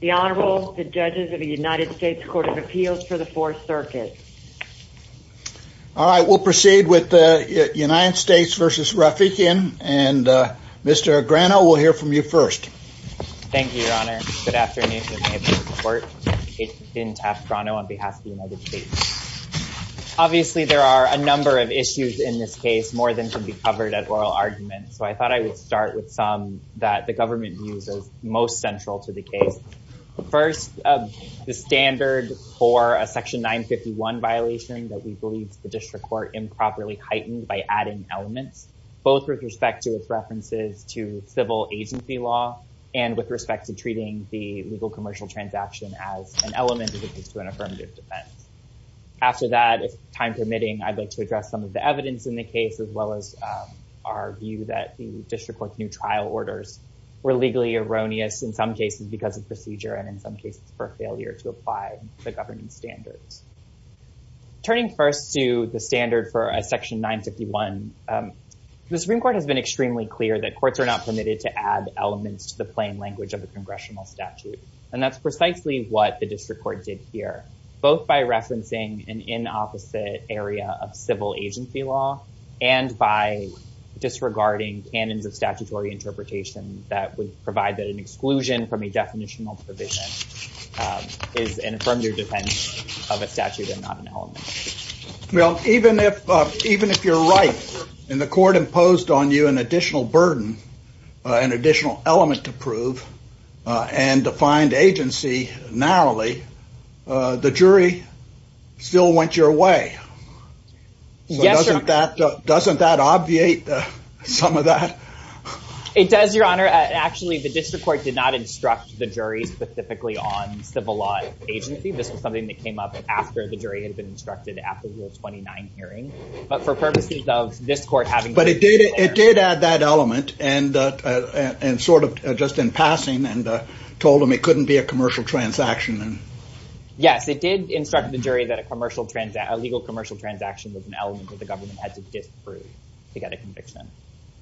The Honorable, the Judges of the United States Court of Appeals for the 4th Circuit. All right, we'll proceed with the United States v. Rafiekian. And Mr. Grano, we'll hear from you first. Thank you, Your Honor. Good afternoon. It's Ben Taft Grano on behalf of the United States. Obviously, there are a number of issues in this case more than can be covered at oral argument. So I thought I would start with some that the government views as most central to the case. First, the standard for a Section 951 violation that we believe the district court improperly heightened by adding elements, both with respect to its references to civil agency law and with respect to treating the legal commercial transaction as an element of an affirmative defense. After that, if time permitting, I'd like to address some of the evidence in the case, as well as our view that the district court's new trial orders were legally erroneous, in some cases because of procedure and in some cases for failure to apply the governing standards. Turning first to the standard for a Section 951, the Supreme Court has been extremely clear that courts are not permitted to add elements to the plain language of a congressional statute. And that's precisely what the district court did here, both by referencing an inopposite area of civil agency law and by disregarding canons of statutory interpretation that would provide that an exclusion from a definitional provision is an affirmative defense of a statute and not an element. Well, even if even if you're right and the court imposed on you an additional burden, an additional element to prove and defined agency narrowly, the jury still went your way. Doesn't that obviate some of that? It does, Your Honor. Actually, the district court did not instruct the jury specifically on civil law agency. This was something that came up after the jury had been instructed after Rule 29 hearing. But for purposes of this court having... But it did add that element and sort of just in passing and told them it couldn't be a commercial transaction. Yes, it did instruct the jury that a commercial transaction, a legal commercial transaction was an element that the government had to disprove to get a conviction.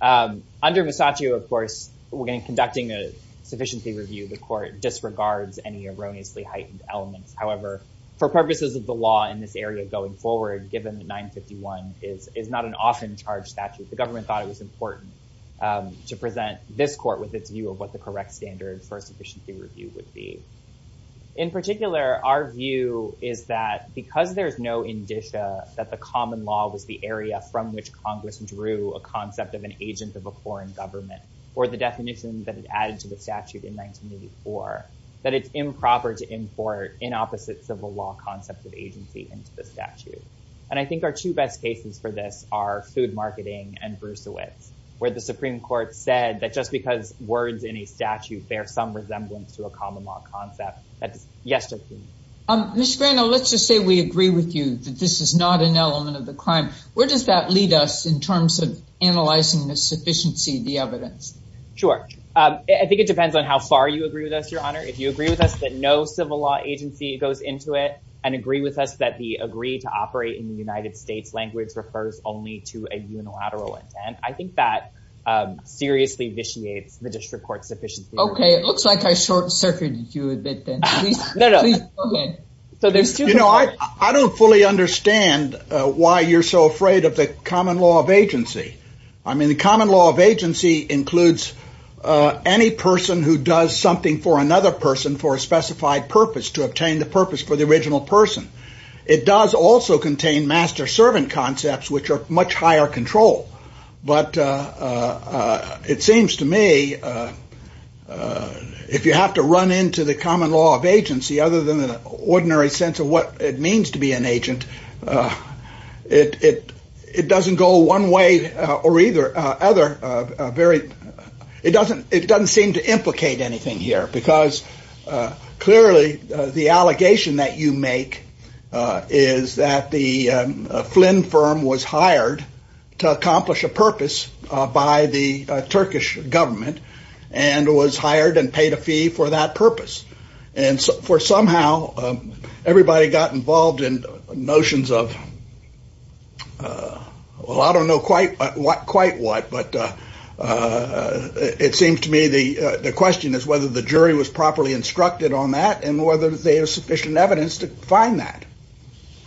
Under Masaccio, of course, when conducting a sufficiency review, the court disregards any erroneously heightened elements. However, for purposes of the law in this area going forward, given that 951 is not an often charged statute, the government thought it was important to present this court with its view of what the correct standard for a sufficiency review would be. In particular, our view is that because there's no indicia that the common law was the area from which Congress drew a concept of an agent of a foreign government or the definition that it added to the statute in 1984, that it's improper to import an opposite civil law concept of agency into the statute. And I think our two best cases for this are food marketing and Bruceowitz, where the Supreme Court said that just because words in a statute bear some resemblance to a common law concept, that's yes or no. Ms. Grano, let's just say we agree with you that this is not an element of the crime. Where does that lead us in terms of analyzing the sufficiency of the evidence? Sure. I think it depends on how far you agree with us, Your Honor. If you agree with us that no civil law agency goes into it and agree with us that the agree to operate in the United States language refers only to a unilateral intent, I think that seriously vitiates the district court's sufficiency review. Okay. It looks like I short-circuited you a bit then. No, no. Please go ahead. You know, I don't fully understand why you're so afraid of the common law of agency. I mean, the common law of agency includes any person who does something for another person for a specified purpose, to obtain the purpose for the original person. It does also contain master-servant concepts, which are much higher control. But it seems to me, if you have to run into the common law of agency, other than an ordinary sense of what it means to be an agent, it doesn't go one way or either other. It doesn't seem to implicate anything here because clearly the allegation that you make is that the Flynn firm was hired to accomplish a purpose by the Turkish government and was hired and paid a fee for that purpose. And for somehow, everybody got involved in notions of, well, I don't know quite what, but it seems to me the question is whether the jury was properly instructed on that and whether there's sufficient evidence to find that.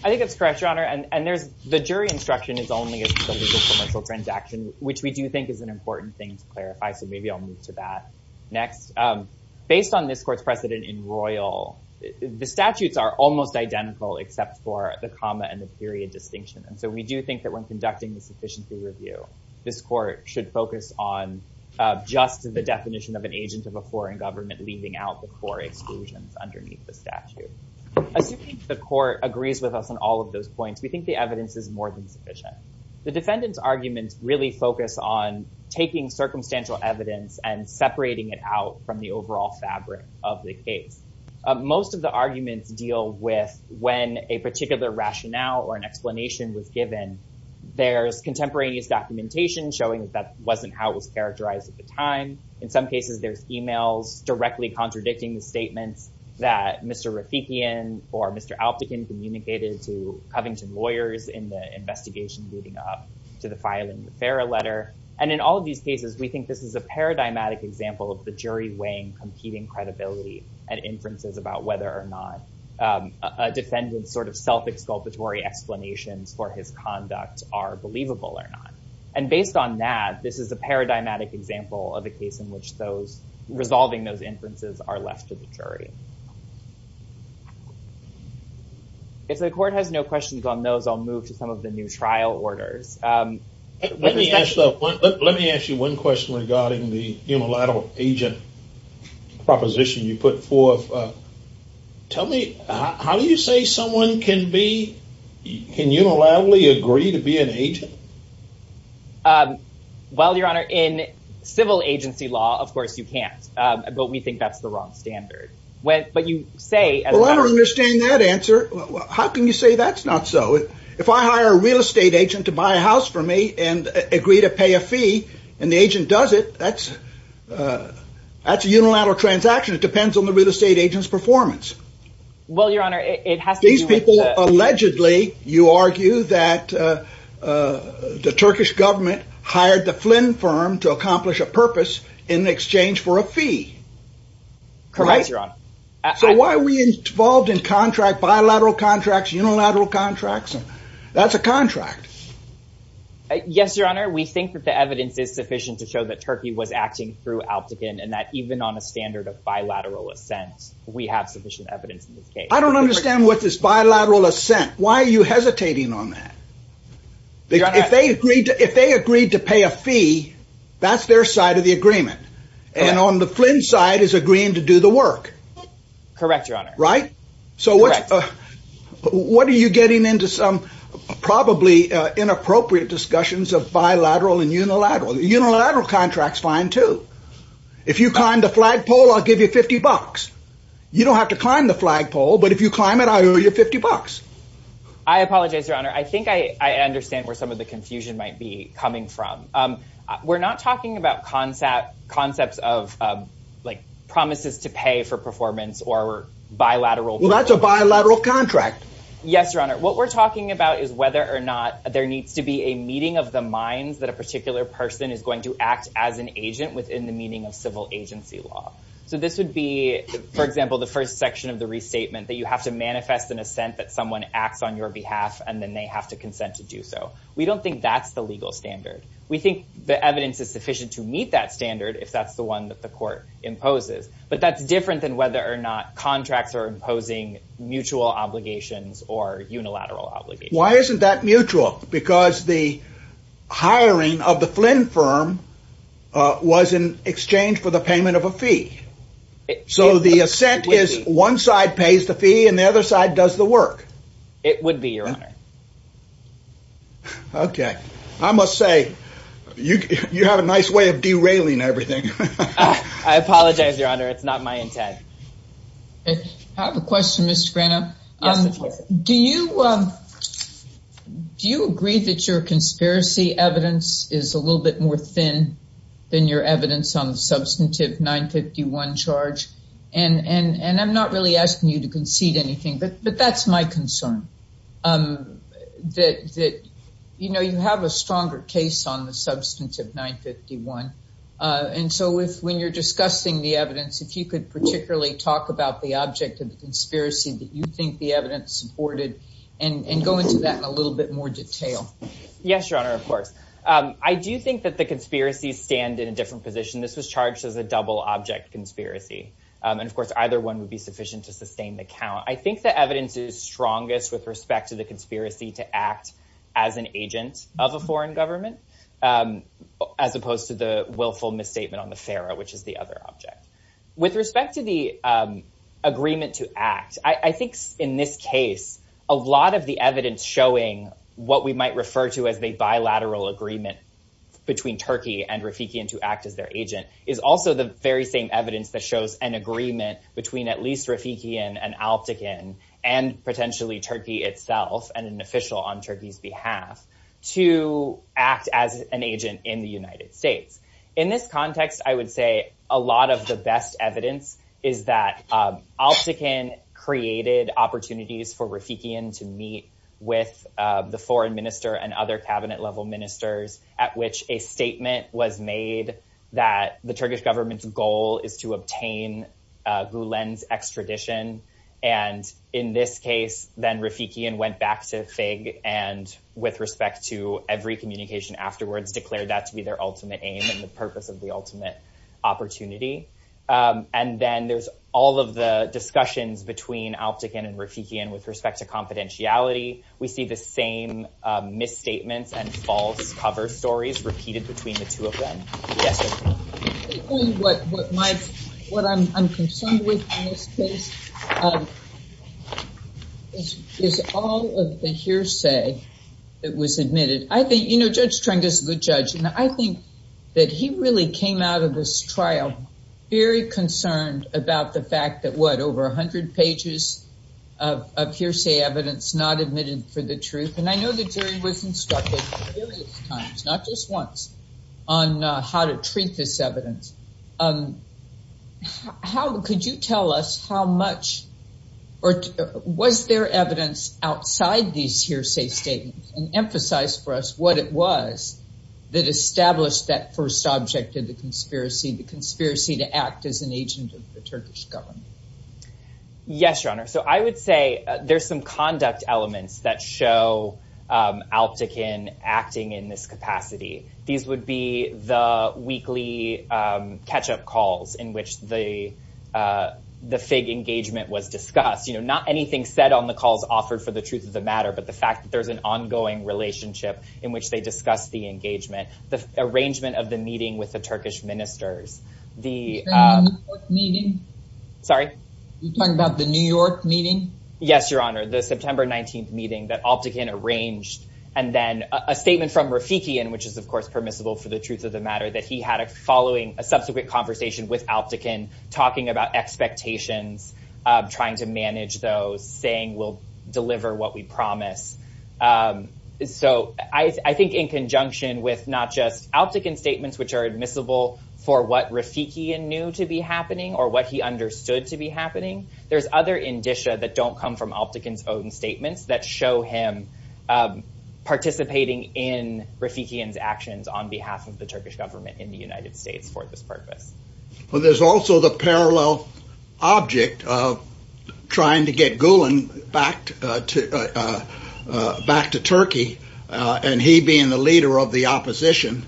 I think that's correct, Your Honor. And the jury instruction is only as part of the commercial transaction, which we do think is an important thing to clarify. So maybe I'll move to that next. Based on this court's precedent in Royal, the statutes are almost identical except for the comma and the period distinction. And so we do think that when conducting the sufficiency review, this court should focus on just the definition of an agent of a foreign government leaving out the core exclusions underneath the statute. Assuming the court agrees with us on all of those points, we think the evidence is more than sufficient. The defendant's arguments really focus on taking circumstantial evidence and separating it out from the overall fabric of the case. Most of the arguments deal with when a particular rationale or an explanation was given. There's contemporaneous documentation showing that wasn't how it was characterized at the time. In some cases, there's emails directly contradicting the statements that Mr. Rafikian or Mr. Alpachin communicated to Covington lawyers in the investigation leading up to the filing of the FARA letter. And in all of these cases, we think this is a paradigmatic example of the jury weighing competing credibility and inferences about whether or not a defendant's sort of self-exculpatory explanations for his conduct are believable or not. And based on that, this is a paradigmatic example of a case in which resolving those inferences are left to the jury. If the court has no questions on those, I'll move to some of the new trial orders. Let me ask you one question regarding the unilateral agent proposition you put forth. Tell me, how do you say someone can be, can unilaterally agree to be an agent? Well, Your Honor, in civil agency law, of course you can't. But we think that's the wrong standard. Well, I don't understand that answer. How can you say that's not so? If I hire a real estate agent to buy a house for me and agree to pay a fee, and the agent does it, that's a unilateral transaction. It depends on the real estate agent's performance. Well, Your Honor, it has to do with the... These people, allegedly, you argue that the Turkish government hired the Flynn firm to accomplish a purpose in exchange for a fee. Correct, Your Honor. So why are we involved in bilateral contracts, unilateral contracts? That's a contract. Yes, Your Honor, we think that the evidence is sufficient to show that Turkey was acting through Alptekin and that even on a standard of bilateral assent, we have sufficient evidence in this case. I don't understand what this bilateral assent... Why are you hesitating on that? Your Honor... If they agreed to pay a fee, that's their side of the agreement. And on the Flynn side is agreeing to do the work. Correct, Your Honor. Right? Correct. So what are you getting into some probably inappropriate discussions of bilateral and unilateral? Unilateral contracts, fine too. If you climb the flagpole, I'll give you 50 bucks. You don't have to climb the flagpole, but if you climb it, I owe you 50 bucks. I apologize, Your Honor. I think I understand where some of the confusion might be coming from. We're not talking about concepts of promises to pay for performance or bilateral... Well, that's a bilateral contract. Yes, Your Honor. What we're talking about is whether or not there needs to be a meeting of the minds that a particular person is going to act as an agent within the meaning of civil agency law. So this would be, for example, the first section of the restatement, that you have to manifest an assent that someone acts on your behalf, and then they have to consent to do so. We don't think that's the legal standard. We think the evidence is sufficient to meet that standard if that's the one that the court imposes. But that's different than whether or not contracts are imposing mutual obligations or unilateral obligations. Why isn't that mutual? Because the hiring of the Flynn firm was in exchange for the payment of a fee. So the assent is one side pays the fee and the other side does the work. It would be, Your Honor. Okay. I must say, you have a nice way of derailing everything. I apologize, Your Honor. It's not my intent. I have a question, Mr. Grano. Yes, Mr. Charles. Do you agree that your conspiracy evidence is a little bit more thin than your evidence on the substantive 951 charge? And I'm not really asking you to concede anything, but that's my concern, that you have a stronger case on the substantive 951. And so when you're discussing the evidence, if you could particularly talk about the object of the conspiracy that you think the evidence supported and go into that in a little bit more detail. Yes, Your Honor, of course. I do think that the conspiracies stand in a different position. This was charged as a double object conspiracy. And of course, either one would be sufficient to sustain the count. I think the evidence is strongest with respect to the conspiracy to act as an agent of a foreign government as opposed to the willful misstatement on the FARA, which is the other object. With respect to the agreement to act, I think in this case, a lot of the evidence showing what we might refer to as the bilateral agreement between Turkey and Rafikian to act as their agent is also the very same evidence that shows an agreement between at least Rafikian and Alptekin and potentially Turkey itself and an official on Turkey's behalf to act as an agent in the United States. In this context, I would say a lot of the best evidence is that Alptekin created opportunities for Rafikian to meet with the foreign minister and other cabinet-level ministers at which a statement was made that the Turkish government's goal is to obtain Gulen's extradition. And in this case, then Rafikian went back to FIG and with respect to every communication afterwards declared that to be their ultimate aim and the purpose of the ultimate opportunity. And then there's all of the discussions between Alptekin and Rafikian with respect to confidentiality. We see the same misstatements and false cover stories repeated between the two of them. What I'm concerned with in this case is all of the hearsay that was admitted. You know, Judge Trent is a good judge, and I think that he really came out of this trial very concerned about the fact that, what, over 100 pages of hearsay evidence not admitted for the truth? And I know the jury was instructed a myriad of times, not just once, on how to treat this evidence. Could you tell us how much or was there evidence outside these hearsay statements? And emphasize for us what it was that established that first object of the conspiracy, the conspiracy to act as an agent of the Turkish government. Yes, Your Honor. So I would say there's some conduct elements that show Alptekin acting in this capacity. These would be the weekly catch-up calls in which the FIG engagement was discussed. You know, not anything said on the calls offered for the truth of the matter, but the fact that there's an ongoing relationship in which they discuss the engagement. The arrangement of the meeting with the Turkish ministers. You're talking about the New York meeting? Sorry? You're talking about the New York meeting? Yes, Your Honor, the September 19th meeting that Alptekin arranged. And then a statement from Rafikian, which is, of course, permissible for the truth of the matter, that he had a following, a subsequent conversation with Alptekin talking about expectations, trying to manage those, saying we'll deliver what we promise. So I think in conjunction with not just Alptekin's statements, which are admissible for what Rafikian knew to be happening or what he understood to be happening, there's other indicia that don't come from Alptekin's own statements that show him participating in Rafikian's actions on behalf of the Turkish government in the United States for this purpose. Well, there's also the parallel object of trying to get Gulen back to Turkey and he being the leader of the opposition,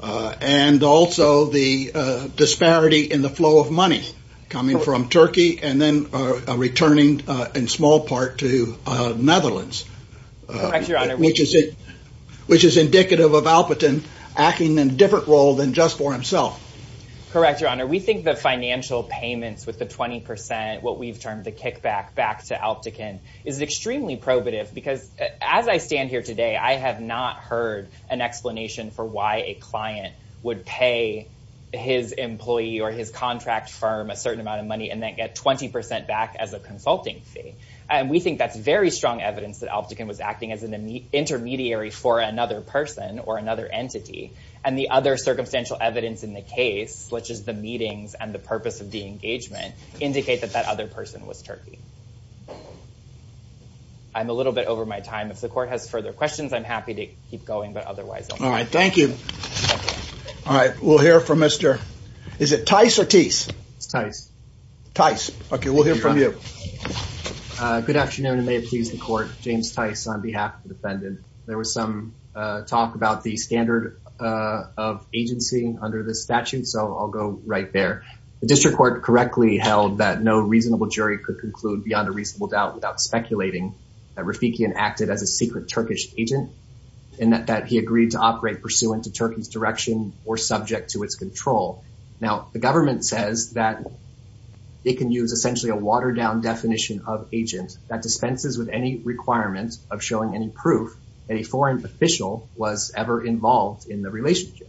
and also the disparity in the flow of money coming from Turkey and then returning in small part to Netherlands. Correct, Your Honor. Which is indicative of Alptekin acting in a different role than just for himself. Correct, Your Honor. We think the financial payments with the 20%, what we've termed the kickback back to Alptekin, is extremely probative, because as I stand here today, I have not heard an explanation for why a client would pay his employee or his contract firm a certain amount of money and then get 20% back as a consulting fee. And we think that's very strong evidence that Alptekin was acting as an intermediary for another person or another entity. And the other circumstantial evidence in the case, such as the meetings and the purpose of the engagement, indicate that that other person was Turkey. I'm a little bit over my time. If the court has further questions, I'm happy to keep going, but otherwise... All right, thank you. All right, we'll hear from Mr. Is it Tice or Teese? It's Tice. Tice. Okay, we'll hear from you. Good afternoon and may it please the court. James Tice on behalf of the defendant. There was some talk about the standard of agency under the statute, so I'll go right there. The district court correctly held that no reasonable jury could conclude beyond a reasonable doubt without speculating that Rafikian acted as a secret Turkish agent and that he agreed to operate pursuant to Turkey's direction or subject to its control. Now, the government says that it can use essentially a watered down definition of agent that dispenses with any requirement of showing any proof that a foreign official was ever involved in the relationship.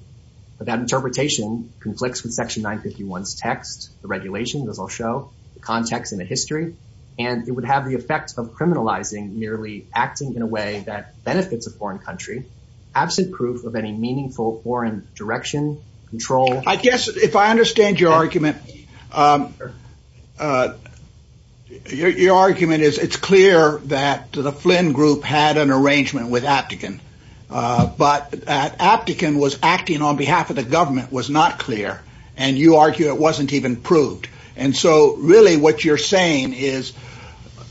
But that interpretation conflicts with section 951's text, the regulation, as I'll show, the context and the history, and it would have the effect of criminalizing merely acting in a way that benefits a foreign country absent proof of any meaningful foreign direction, control... I guess if I understand your argument... Your argument is it's clear that the Flynn group had an arrangement with Aptekin, but that Aptekin was acting on behalf of the government was not clear, and you argue it wasn't even proved. And so really what you're saying is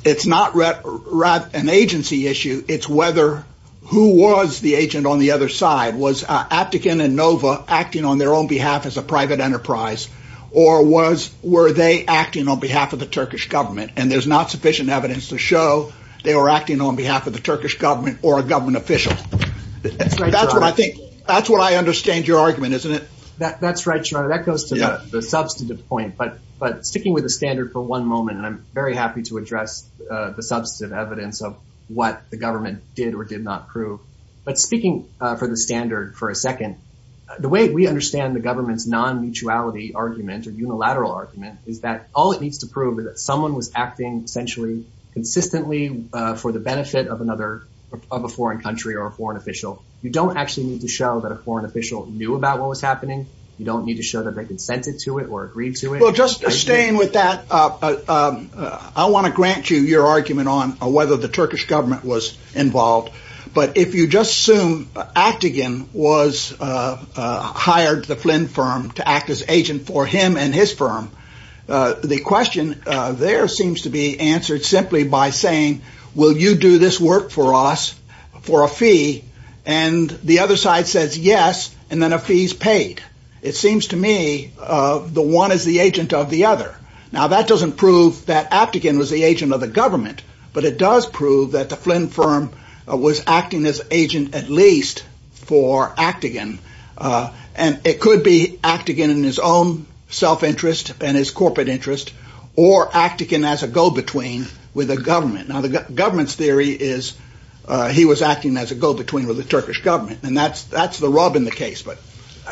it's not an agency issue, it's whether who was the agent on the other side. Was Aptekin and Nova acting on their own behalf as a private enterprise, or were they acting on behalf of the Turkish government? And there's not sufficient evidence to show they were acting on behalf of the Turkish government or a government official. That's what I think... That's what I understand your argument, isn't it? That's right, Sharada. That goes to the substantive point. But sticking with the standard for one moment, and I'm very happy to address the substantive evidence of what the government did or did not prove. But speaking for the standard for a second, the way we understand the government's non-mutuality argument or unilateral argument is that all it needs to prove is that someone was acting essentially consistently for the benefit of another... of a foreign country or a foreign official. You don't actually need to show that a foreign official knew about what was happening. You don't need to show that they consented to it or agreed to it. Well, just staying with that, I want to grant you your argument on whether the Turkish government was involved. But if you just assume Aptekin was... hired the Flynn firm to act as agent for him and his firm, the question there seems to be answered simply by saying, will you do this work for us for a fee? And the other side says yes, and then a fee is paid. It seems to me the one is the agent of the other. Now, that doesn't prove that Aptekin was the agent of the government, but it does prove that the Flynn firm was acting as agent at least for Aptekin. And it could be Aptekin in his own self-interest and his corporate interest, or Aptekin as a go-between with the government. Now, the government's theory is he was acting as a go-between with the Turkish government, and that's the rub in the case, but...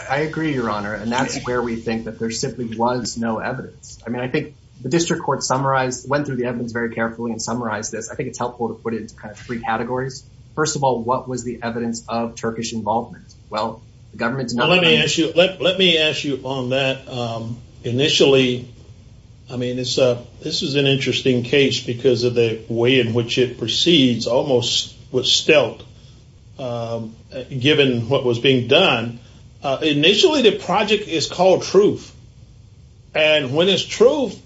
I agree, Your Honor, and that's where we think that there simply was no evidence. I mean, I think the district court summarized... went through the evidence very carefully and summarized this. I think it's helpful to put it into kind of three categories. First of all, what was the evidence of Turkish involvement? Well, the government's not... Well, let me ask you on that. Initially... I mean, this is an interesting case because of the way in which it proceeds, almost with stealth, given what was being done. Initially, the project is called Truth. And when it's Truth,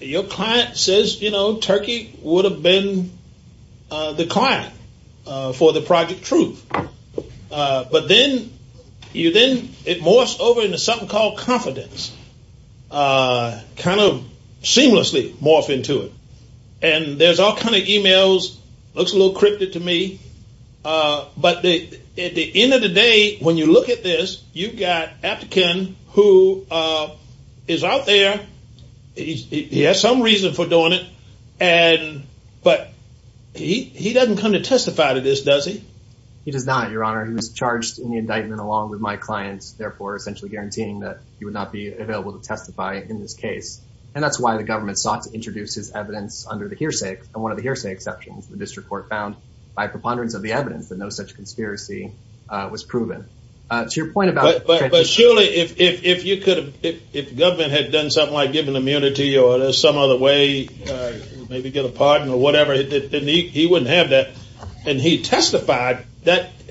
your client says, you know, Turkey would have been the client for the project Truth. But then it morphs over into something called Confidence. Kind of seamlessly morphed into it. And there's all kind of emails. Looks a little cryptic to me. But at the end of the day, when you look at this, you've got Aptekin, who is out there. He has some reason for doing it. But he doesn't come to testify to this, does he? He does not, Your Honor. He was charged in the indictment along with my clients. Therefore, essentially guaranteeing that he would not be available to testify in this case. And that's why the government sought to introduce his evidence under the hearsay, and one of the hearsay exceptions the district court found by preponderance of the evidence that no such conspiracy was proven. To your point about... But surely, if you could have... If the government had done something like give him immunity or some other way, maybe get a pardon or whatever, he wouldn't have that. And he testified.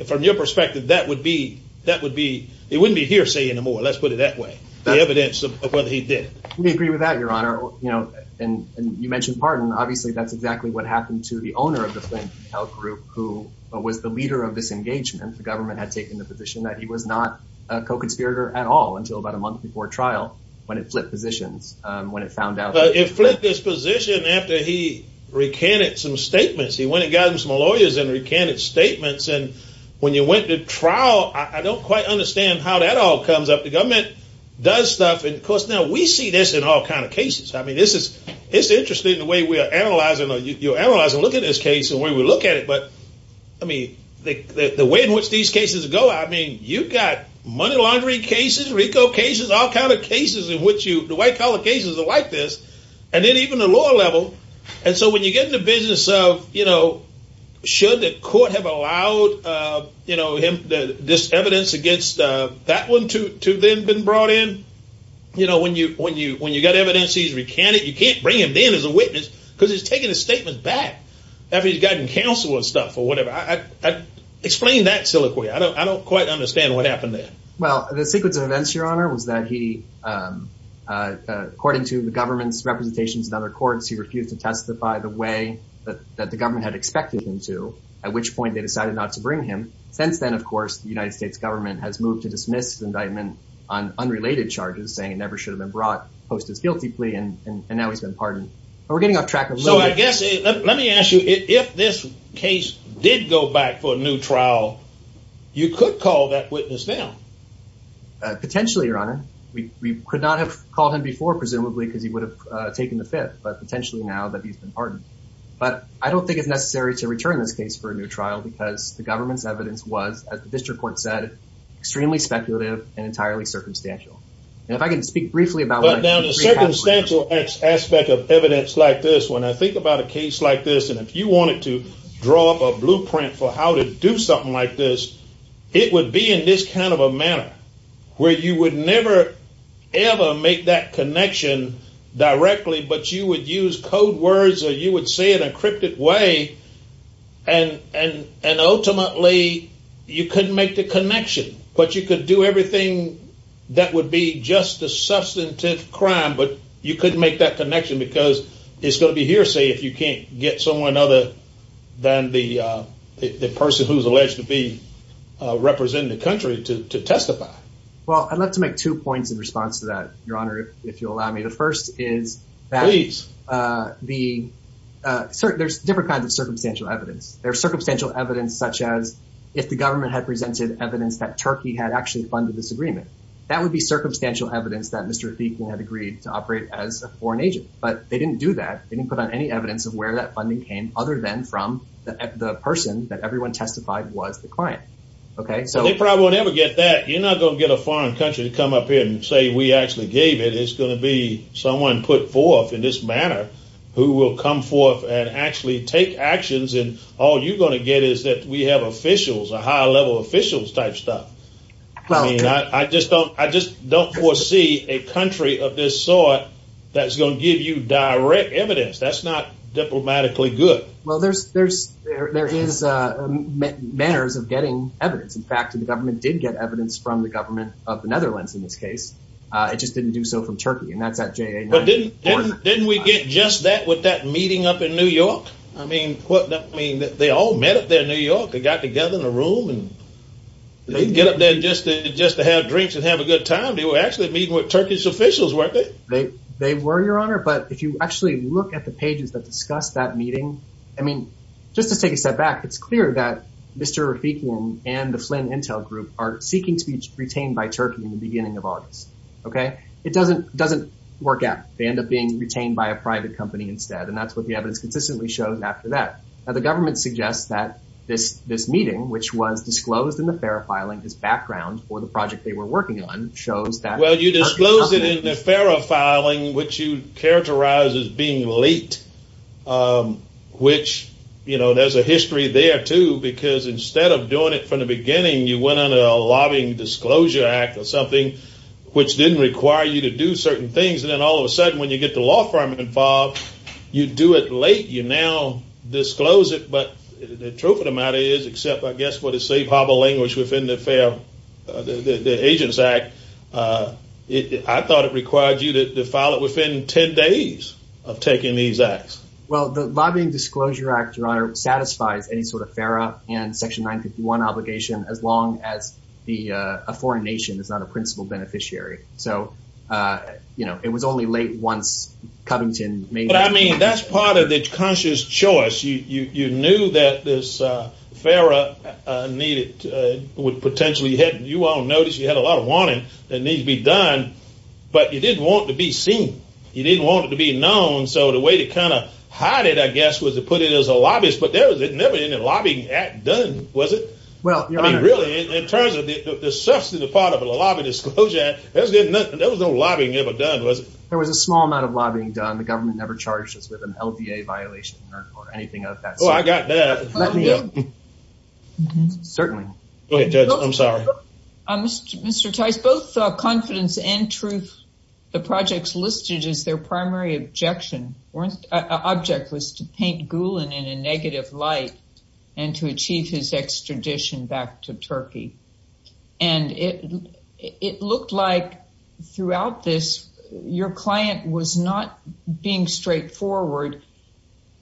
From your perspective, that would be... It wouldn't be hearsay anymore. Let's put it that way. The evidence of what he did. We agree with that, Your Honor. And you mentioned pardon. Obviously, that's exactly what happened to the owner of the Flint Health Group, who was the leader of this engagement. The government had taken the position that he was not a co-conspirator at all until about a month before trial when it flipped positions, when it found out... But it flipped his position after he recanted some statements. He went and got him some lawyers and recanted statements. And when you went to trial, I don't quite understand how that all comes up. The government does stuff. And, of course, now we see this in all kind of cases. I mean, this is... It's interesting the way we are analyzing... You analyze and look at this case and the way we look at it. But, I mean, the way in which these cases go, I mean, you've got money laundry cases, RICO cases, all kind of cases in which you... The white-collar cases are like this. And then even the lower level. And so when you get in the business of, you know, should the court have allowed, you know, this evidence against that one to then have been brought in? You know, when you've got evidence he's recanted, you can't bring him in as a witness because he's taken his statement back after he's gotten counsel and stuff or whatever. Explain that, Siliquoy. I don't quite understand what happened there. Well, the sequence of events, Your Honor, was that he, according to the government's representations in other courts, he refused to testify the way that the government had expected him to, at which point they decided not to bring him. Since then, of course, the United States government has moved to dismiss the indictment on unrelated charges, saying it never should have been brought post his guilty plea, and now he's been pardoned. But we're getting off track a little bit. So I guess, let me ask you, if this case did go back for a new trial, you could call that witness now? Potentially, Your Honor. We could not have called him before, presumably, because he would have taken the Fifth, but potentially now that he's been pardoned. But I don't think it's necessary to return this case for a new trial because the government's evidence was, as the district court said, extremely speculative and entirely circumstantial. And if I can speak briefly about what I just recapped... But now, the circumstantial aspect of evidence like this, when I think about a case like this, and if you wanted to draw up a blueprint for how to do something like this, it would be in this kind of a manner, where you would never ever make that connection directly, but you would use code words, or you would say it in a cryptic way, and ultimately you couldn't make the connection. But you could do everything that would be just a substantive crime, but you couldn't make that connection because it's going to be hearsay if you can't get someone other than the person who's alleged to be representing the country to testify. Well, I'd love to make two points in response to that, Your Honor, if you'll allow me. The first is that... Please. There's different kinds of circumstantial evidence. There's circumstantial evidence such as if the government had presented evidence that Turkey had actually funded this agreement. That would be circumstantial evidence that Mr. Deacon had agreed to operate as a foreign agent. But they didn't do that. They didn't put on any evidence of where that funding came other than from the person that everyone testified was the client. They probably won't ever get that. You're not going to get a foreign country to come up here and say we actually gave it. It's going to be someone put forth in this manner who will come forth and actually take actions, and all you're going to get is that we have officials, a high-level officials type stuff. I just don't foresee a country of this sort that's going to give you direct evidence. That's not diplomatically good. Well, there is manners of getting evidence. In fact, the government did get evidence from the government of the Netherlands in this case. It just didn't do so from Turkey, and that's at JA... But didn't we get just that with that meeting up in New York? I mean, they all met up there in New York. They got together in a room, and they didn't get up there just to have drinks and have a good time. They were actually meeting with Turkish officials, weren't they? They were, Your Honor, but if you actually look at the pages that discuss that meeting, I mean, just to take a step back, it's clear that Mr. Rafikum and the Flynn Intel Group are seeking to be retained by Turkey in the beginning of August. It doesn't work out. They end up being retained by a private company instead, and that's what the evidence consistently shows after that. Now, the government suggests that this meeting, which was disclosed in the FARA filing, this background for the project they were working on, shows that... Well, you disclosed it in the FARA filing, which you characterized as being late, which, you know, there's a history there, too, because instead of doing it from the beginning, you went under a lobbying disclosure act or something, which didn't require you to do certain things, and then all of a sudden when you get the law firm involved, you do it late, you now disclose it, but the truth of the matter is, except, I guess, for the safe harbor language within the agents act, I thought it required you to file it within 10 days of taking these acts. Well, the lobbying disclosure act, Your Honor, satisfies any sort of FARA and Section 951 obligation as long as a foreign nation is not a principal beneficiary. So, you know, it was only late once Covington made... But, I mean, that's part of the conscious choice. You knew that this FARA needed... You all noticed you had a lot of wanting that needed to be done, but you didn't want it to be seen. You didn't want it to be known, so the way to kind of hide it, I guess, was to put it as a lobbyist, but there was never any lobbying act done, was it? Well, Your Honor... I mean, really, in terms of the substantive part of a lobby disclosure act, there was no lobbying ever done, was it? There was a small amount of lobbying done. The government never charged us with an LDA violation or anything of that sort. Oh, I got that. Certainly. Go ahead, Judge. I'm sorry. Mr. Tice, both confidence and truth, the projects listed as their primary objection or object was to paint Gulen in a negative light and to achieve his extradition back to Turkey. And it looked like, throughout this, your client was not being straightforward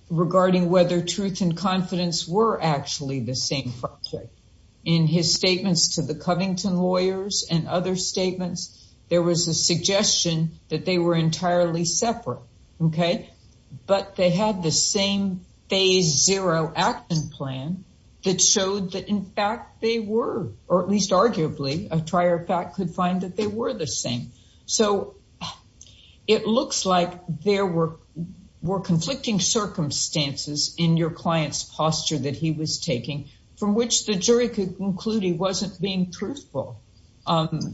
regarding whether truth and confidence were actually the same project. In his statements to the Covington lawyers and other statements, there was a suggestion that they were entirely separate, okay? But they had the same phase zero action plan that showed that, in fact, they were, or at least arguably a prior fact could find that they were the same. So it looks like there were conflicting circumstances in your client's posture that he was taking from which the jury could conclude he wasn't being truthful.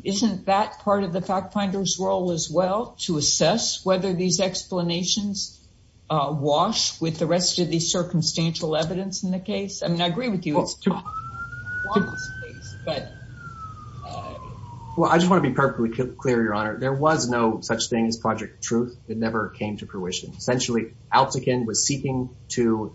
Isn't that part of the fact finder's role as well, to assess whether these explanations wash with the rest of the circumstantial evidence in the case? I mean, I agree with you. But... Well, I just want to be perfectly clear, Your Honor. There was no such thing as Project Truth. It never came to fruition. Essentially, Altekin was seeking to...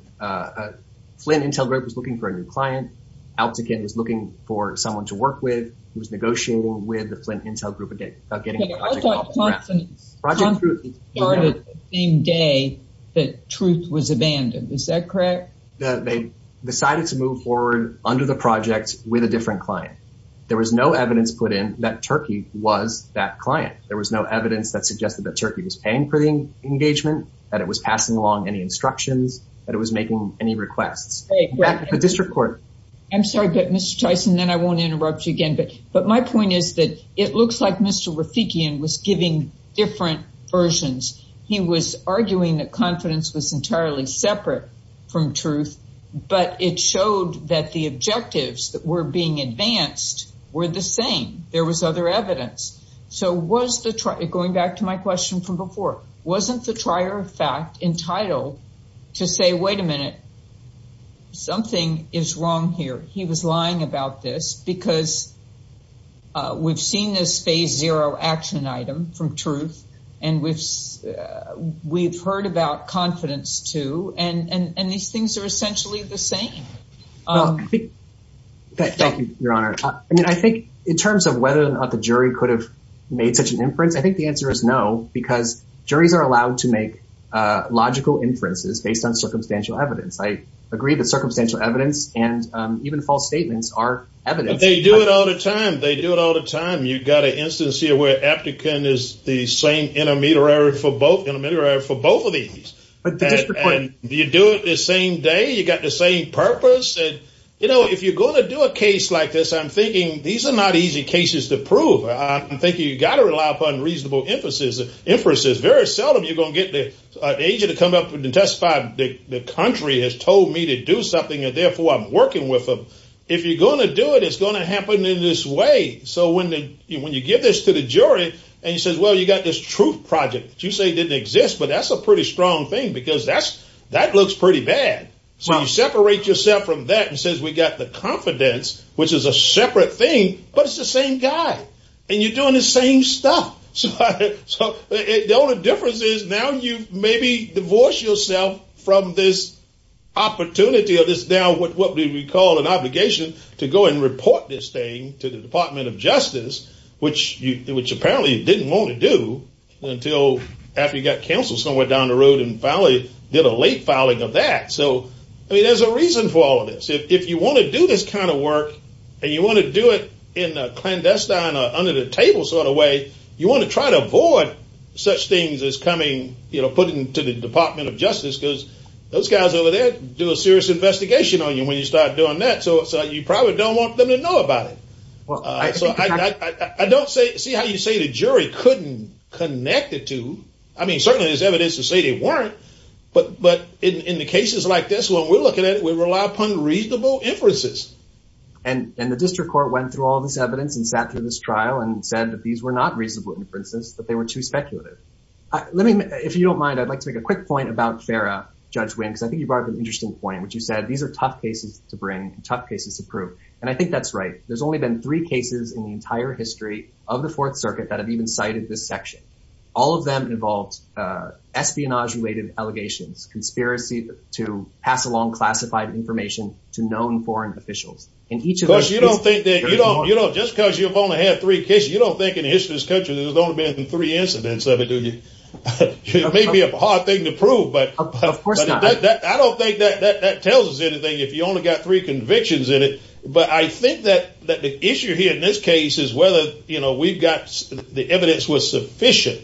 Flint Intel Group was looking for a new client. Altekin was looking for someone to work with who was negotiating with the Flint Intel Group about getting the project off the ground. Okay, I thought confidence started the same day that truth was abandoned. Is that correct? They decided to move forward under the project with a different client. There was no evidence put in that Turkey was that client. There was no evidence that suggested that Turkey was paying for the engagement, that it was passing along any instructions, that it was making any requests. Back to the district court. I'm sorry, but Mr. Tyson, then I won't interrupt you again. But my point is that it looks like Mr. Rafikian was giving different versions. He was arguing that confidence was entirely separate from truth, but it showed that the objectives that were being advanced were the same. There was other evidence. Going back to my question from before, wasn't the trier of fact entitled to say, wait a minute, something is wrong here. He was lying about this because we've seen this phase zero action item from truth, and we've heard about confidence too. And these things are essentially the same. Thank you, Your Honor. I think in terms of whether or not the jury could have made such an inference, I think the answer is no because juries are allowed to make logical inferences based on circumstantial evidence. I agree that circumstantial evidence and even false statements are evidence. But they do it all the time. They do it all the time. You've got an instance here where Aptekin is the same intermediary for both of these. You do it the same day, you've got the same purpose. If you're going to do a case like this, I'm thinking these are not easy cases to prove. I'm thinking you've got to rely upon reasonable inferences. Very seldom are you going to get an agent to come up and testify, the country has told me to do something and therefore I'm working with them. If you're going to do it, it's going to happen in this way. So when you give this to the jury, and he says, well, you've got this truth project that you say didn't exist, but that's a pretty strong thing because that looks pretty bad. So you separate yourself from that and says we've got the confidence, which is a separate thing, but it's the same guy. And you're doing the same stuff. So the only difference is now you've maybe divorced yourself from this opportunity or this now what we would call an obligation to go and report this thing to the Department of Justice, which apparently you didn't want to do until after you got canceled somewhere down the road and finally did a late filing of that. So there's a reason for all of this. If you want to do this kind of work and you want to do it in a clandestine, under-the-table sort of way, you want to try to avoid such things as coming, putting to the Department of Justice because those guys over there do a serious investigation on you when you start doing that, so you probably don't want them to know about it. So I don't see how you say the jury couldn't connect the two. I mean, certainly there's evidence to say they weren't, but in the cases like this, when we're looking at it, we rely upon reasonable inferences. And the district court went through all this evidence and sat through this trial and said that these were not reasonable inferences, that they were too speculative. If you don't mind, I'd like to make a quick point about Farrah, Judge Winks. I think you brought up an interesting point, which you said these are tough cases to bring, tough cases to prove, and I think that's right. There's only been three cases in the entire history of the Fourth Circuit that have even cited this section. All of them involved espionage-related allegations, conspiracy to pass along classified information to known foreign officials. And each of those cases... Because you don't think that... Just because you've only had three cases, you don't think in the history of this country there's only been three incidents of it, do you? It may be a hard thing to prove, but... Of course not. I don't think that tells us anything. If you only got three convictions in it... But I think that the issue here in this case is whether the evidence was sufficient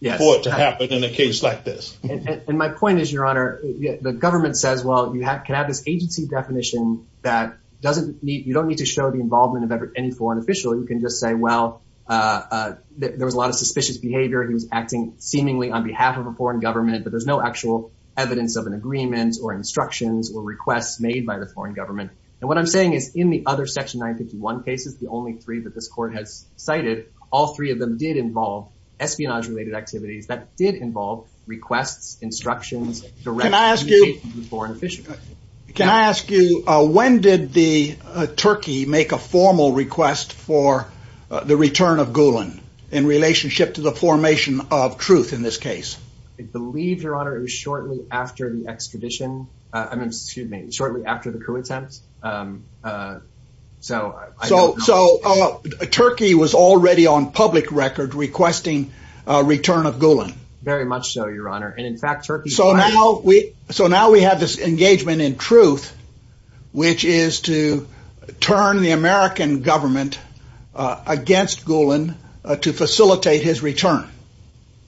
for it to happen in a case like this. And my point is, Your Honor, the government says, well, you can have this agency definition that you don't need to show the involvement of any foreign official. You can just say, well, there was a lot of suspicious behavior. He was acting seemingly on behalf of a foreign government, but there's no actual evidence of an agreement or instructions or requests made by the foreign government. And what I'm saying is, in the other Section 951 cases, the only three that this Court has cited, all three of them did involve espionage-related activities. That did involve requests, instructions, direct communication with foreign officials. Can I ask you, when did the Turkey make a formal request for the return of Gulen in relationship to the formation of truth in this case? I believe, Your Honor, it was shortly after the expedition. I mean, excuse me, shortly after the coup attempt. So I don't know. So Turkey was already on public record requesting a return of Gulen. Very much so, Your Honor. And in fact, Turkey... So now we have this engagement in truth, which is to turn the American government against Gulen to facilitate his return.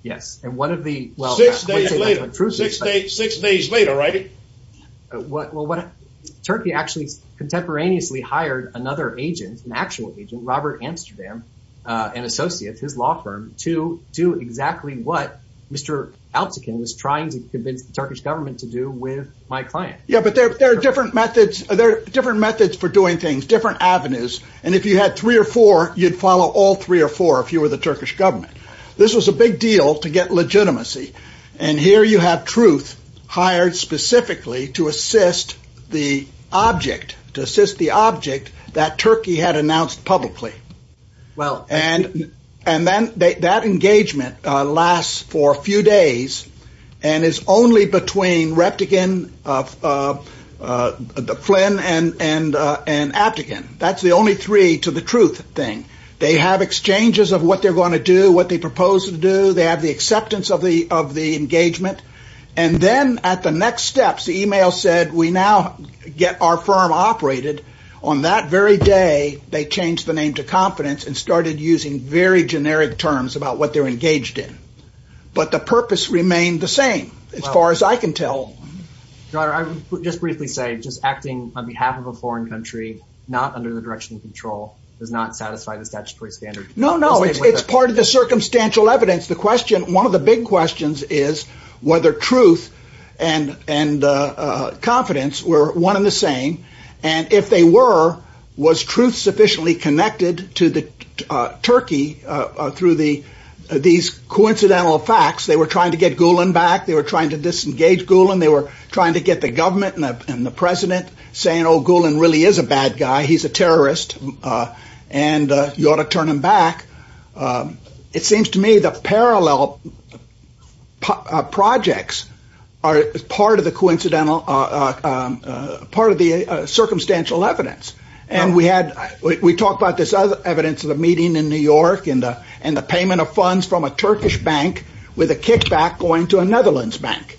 Yes, and one of the... Six days later, right? Well, Turkey actually contemporaneously hired another agent, an actual agent, Robert Amsterdam, an associate of his law firm, to do exactly what Mr. Altekin was trying to convince the Turkish government to do with my client. Yeah, but there are different methods for doing things, different avenues. And if you had three or four, you'd follow all three or four if you were the Turkish government. This was a big deal to get legitimacy. And here you have truth hired specifically to assist the object, to assist the object that Turkey had announced publicly. And that engagement lasts for a few days and is only between Reptikin, Flynn, and Aptekin. That's the only three to the truth thing. They have exchanges of what they're going to do, what they propose to do. They have the acceptance of the engagement. And then at the next steps, the email said, we now get our firm operated. On that very day, they changed the name to confidence and started using very generic terms about what they're engaged in. But the purpose remained the same, as far as I can tell. Your Honor, I would just briefly say, just acting on behalf of a foreign country not under the direction of control does not satisfy the statutory standard. No, no, it's part of the circumstantial evidence. The question, one of the big questions is whether truth and confidence were one and the same. And if they were, was truth sufficiently connected to Turkey through these coincidental facts? They were trying to get Gulen back. They were trying to disengage Gulen. They were trying to get the government and the president saying, oh, Gulen really is a bad guy. He's a terrorist. And you ought to turn him back. It seems to me the parallel projects are part of the circumstantial evidence. And we talked about this other evidence of a meeting in New York and the payment of funds from a Turkish bank with a kickback going to a Netherlands bank.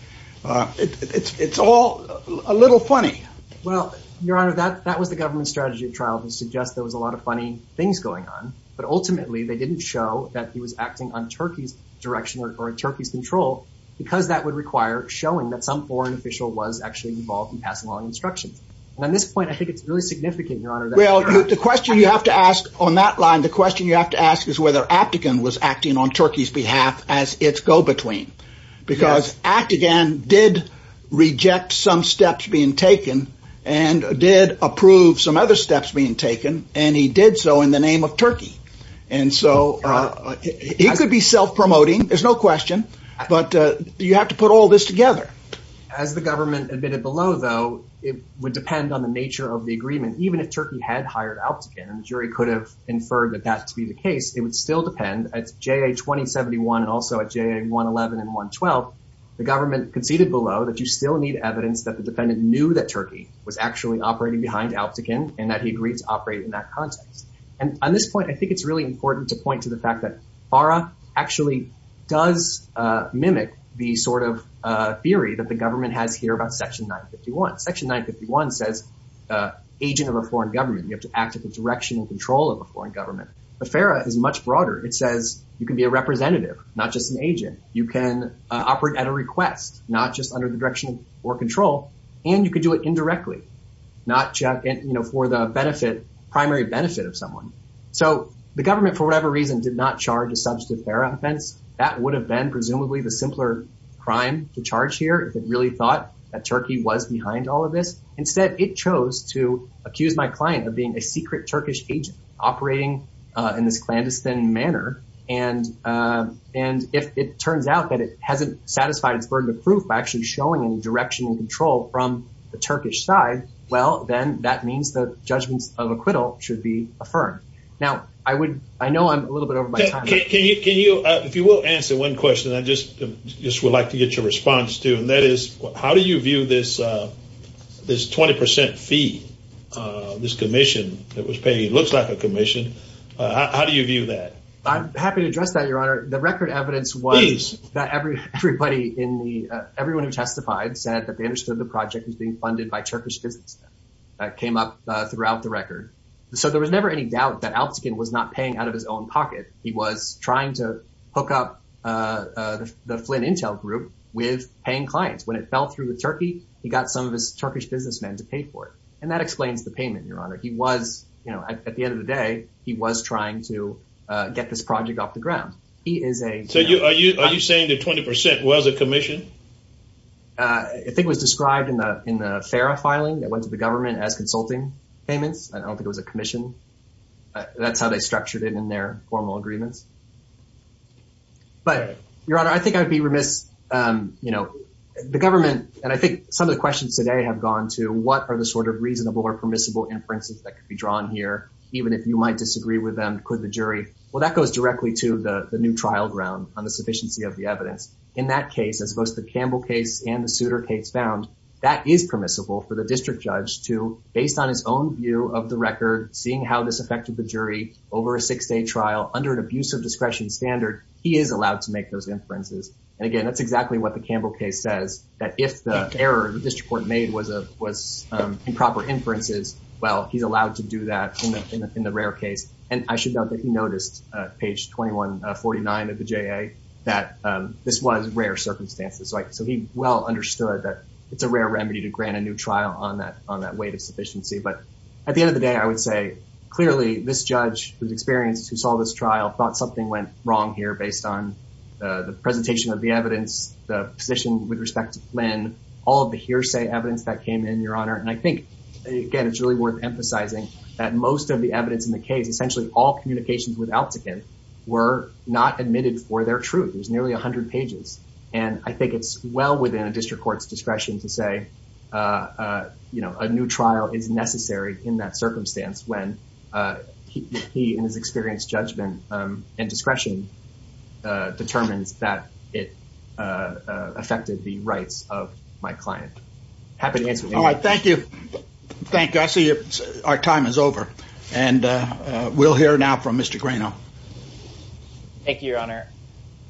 It's all a little funny. Well, Your Honor, that was the government strategy trial that suggests there was a lot of funny things going on. But ultimately, they didn't show that he was acting on Turkey's direction or on Turkey's control because that would require showing that some foreign official was actually involved in passing along instructions. And at this point, I think it's really significant, Your Honor, that Gulen was acting on Turkey's behalf. Well, the question you have to ask on that line, the question you have to ask is whether Aptekin was acting on Turkey's behalf as its go-between. Because Aptekin did reject some steps being taken and did approve some other steps being taken. And he did so in the name of Turkey. And so he could be self-promoting. There's no question. But you have to put all this together. As the government admitted below, though, it would depend on the nature of the agreement. Even if Turkey had hired Aptekin, and the jury could have inferred that that to be the case, it would still depend. At JA-2071 and also at JA-111 and 112, the government conceded below that you still need evidence that the defendant knew that Turkey was actually operating behind Aptekin and that he agreed to operate in that context. And on this point, I think it's really important to point to the fact that FARA actually does mimic the sort of theory that the government has here about Section 951. Section 951 says agent of a foreign government. You have to act at the direction and control of a foreign government. But FARA is much broader. It says you can be a representative, not just an agent. You can operate at a request, not just under the direction or control. And you can do it indirectly. Not for the benefit, primary benefit of someone. So the government, for whatever reason, did not charge a substantive FARA offense. That would have been presumably the simpler crime to charge here if it really thought that Turkey was behind all of this. Instead, it chose to accuse my client of being a secret Turkish agent operating in this clandestine manner. And if it turns out that it hasn't satisfied its burden of proof by actually showing direction and control from the Turkish side, well, then that means the judgments of acquittal should be affirmed. Now, I know I'm a little bit over my time. If you will answer one question, I just would like to get your response to. And that is, how do you view this 20% fee, this commission that was paid? It looks like a commission. How do you view that? I'm happy to address that, Your Honor. The record evidence was that everyone who testified said that they understood the project was being funded by Turkish businessmen. That came up throughout the record. So there was never any doubt that Altshuler was not paying out of his own pocket. He was trying to hook up the Flynn Intel Group with paying clients. When it fell through with Turkey, he got some of his Turkish businessmen to pay for it. And that explains the payment, Your Honor. He was, you know, at the end of the day, he was trying to get this project off the ground. So are you saying that 20% was a commission? I think it was described in the FARA filing that went to the government as consulting payments. I don't think it was a commission. That's how they structured it in their formal agreements. But, Your Honor, I think I would be remiss, you know, the government, and I think some of the questions today have gone to what are the sort of reasonable or permissible inferences that could be drawn here, even if you might disagree with them, could the jury? Well, that goes directly to the new trial ground on the sufficiency of the evidence. In that case, as both the Campbell case and the Souter case found, that is permissible for the district judge to, based on his own view of the record, seeing how this affected the jury over a six-day trial under an abuse of discretion standard, he is allowed to make those inferences. And again, that's exactly what the Campbell case says, that if the error the district court made was improper inferences, well, he's allowed to do that in the rare case. And I should note that he noticed, page 2149 of the JA, that this was rare circumstances. So he well understood that it's a rare remedy to grant a new trial on that weight of sufficiency. But at the end of the day, I would say, clearly, this judge who's experienced, who saw this trial, thought something went wrong here based on the presentation of the evidence, the position with respect to Flynn, all of the hearsay evidence that came in, Your Honor. And I think, again, it's really worth emphasizing that most of the evidence in the case, essentially all communications with Altikin, were not admitted for their truth. There's nearly 100 pages. And I think it's well within a district court's discretion to say, you know, a new trial is necessary in that circumstance when he, in his experienced judgment and discretion, determines that it affected the rights of my client. Happy to answer any questions. All right, thank you. Thank you. I see our time is over. And we'll hear now from Mr. Grano. Thank you, Your Honor.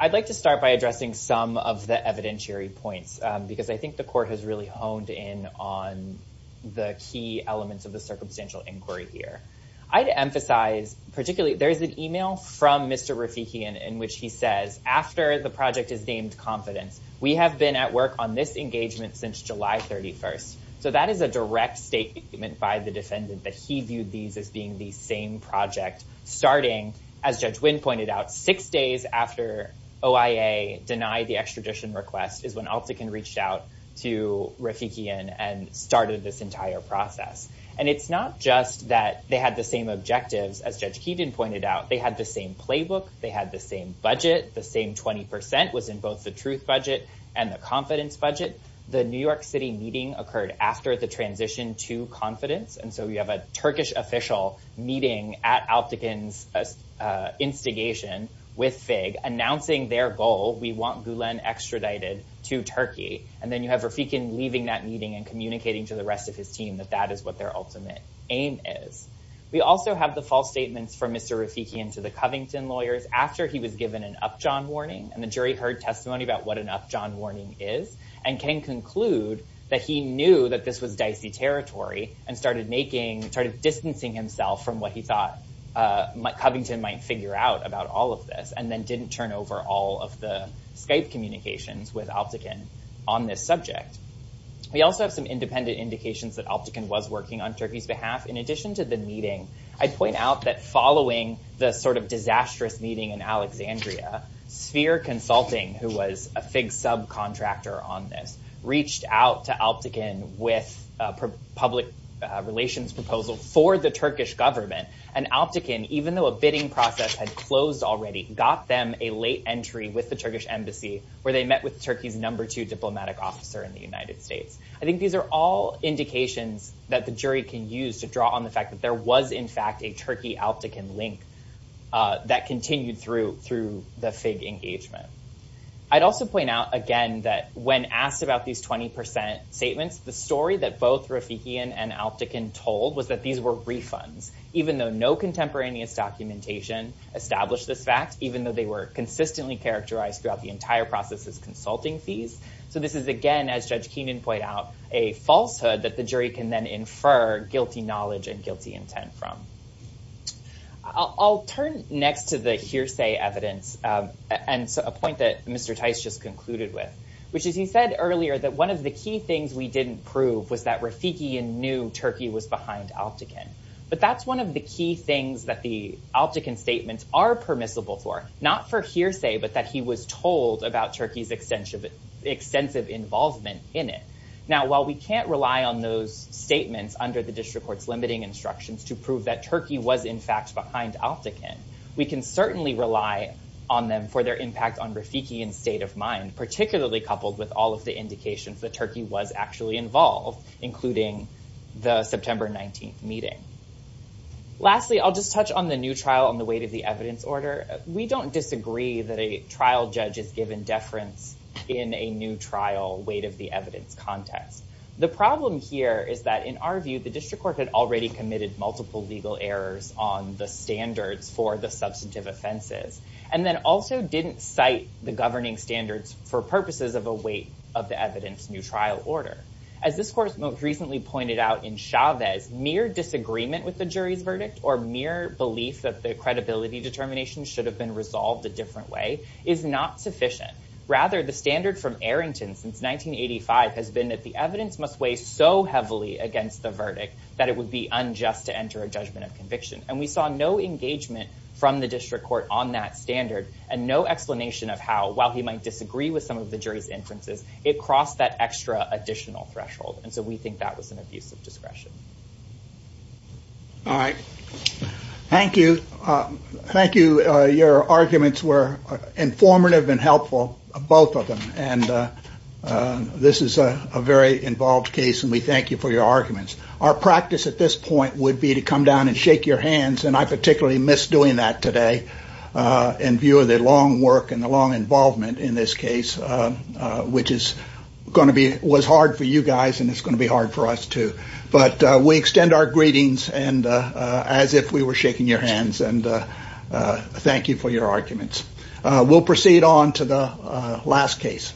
I'd like to start by addressing some of the evidentiary points, because I think the court has really honed in on the key elements of the circumstantial inquiry here. I'd emphasize, particularly, there's an email from Mr. Rafikian in which he says, after the project is named confidence, we have been at work on this engagement since July 31st. So that is a direct statement by the defendant that he viewed these as being the same project, starting, as Judge Wynn pointed out, six days after OIA denied the extradition request is when Altikin reached out to Rafikian and started this entire process. And it's not just that they had the same objectives, as Judge Keeton pointed out. They had the same playbook. They had the same budget. The same 20% was in both the truth budget and the confidence budget. The New York City meeting occurred after the transition to confidence. And so we have a Turkish official meeting at Altikin's instigation with FIG, announcing their goal, we want Gulen extradited to Turkey. And then you have Rafikian leaving that meeting and communicating to the rest of his team that that is what their ultimate aim is. We also have the false statements from Mr. Rafikian to the Covington lawyers after he was given an upjohn warning. And the jury heard testimony about what an upjohn warning is and can conclude that he knew that this was dicey territory and started distancing himself from what he thought Covington might figure out about all of this and then didn't turn over all of the Skype communications with Altikin on this subject. We also have some independent indications that Altikin was working on Turkey's behalf. In addition to the meeting, I'd point out that following the sort of disastrous meeting in Alexandria, Sphere Consulting, who was a FIG subcontractor on this, reached out to Altikin with a public relations proposal for the Turkish government. And Altikin, even though a bidding process had closed already, got them a late entry with the Turkish embassy where they met with Turkey's number two diplomatic officer in the United States. I think these are all indications that the jury can use to draw on the fact that there was in fact a Turkey-Altikin link that continued through the FIG engagement. I'd also point out again that when asked about these 20% statements, the story that both Rafikian and Altikin told was that these were refunds, even though no contemporaneous documentation established this fact, even though they were consistently characterized throughout the entire process as consulting fees. So this is again, as Judge Keenan pointed out, a falsehood that the jury can then infer guilty knowledge and guilty intent from. I'll turn next to the hearsay evidence and a point that Mr. Tice just concluded with, which is he said earlier that one of the key things we didn't prove was that Rafikian knew Turkey was behind Altikin. But that's one of the key things that the Altikin statements are permissible for, not for hearsay, but that he was told about Turkey's extensive involvement in it. Now, while we can't rely on those statements under the district court's limiting instructions to prove that Turkey was in fact behind Altikin, we can certainly rely on them for their impact on Rafikian's state of mind, particularly coupled with all of the indications that Turkey was actually involved, including the September 19th meeting. Lastly, I'll just touch on the new trial on the weight of the evidence order. We don't disagree that a trial judge is given deference in a new trial weight of the evidence context. The problem here is that in our view, the district court had already committed multiple legal errors on the standards for the substantive offenses, and then also didn't cite the governing standards for purposes of a weight of the evidence new trial order. As this court most recently pointed out in Chavez, mere disagreement with the jury's verdict or mere belief that the credibility determination should have been resolved a different way is not sufficient. Rather, the standard from Arrington since 1985 has been that the evidence must weigh so heavily against the verdict that it would be unjust to enter a judgment of conviction. And we saw no engagement from the district court on that standard and no explanation of how, while he might disagree with some of the jury's inferences, it crossed that extra additional threshold. And so we think that was an abuse of discretion. All right. Thank you. Thank you. Your arguments were informative and helpful, both of them. And this is a very involved case, and we thank you for your arguments. Our practice at this point would be to come down and shake your hands, and I particularly miss doing that today in view of the long work and the long involvement in this case, which was hard for you guys, and it's going to be hard for us, too. But we extend our greetings as if we were shaking your hands, and thank you for your arguments. We'll proceed on to the last case.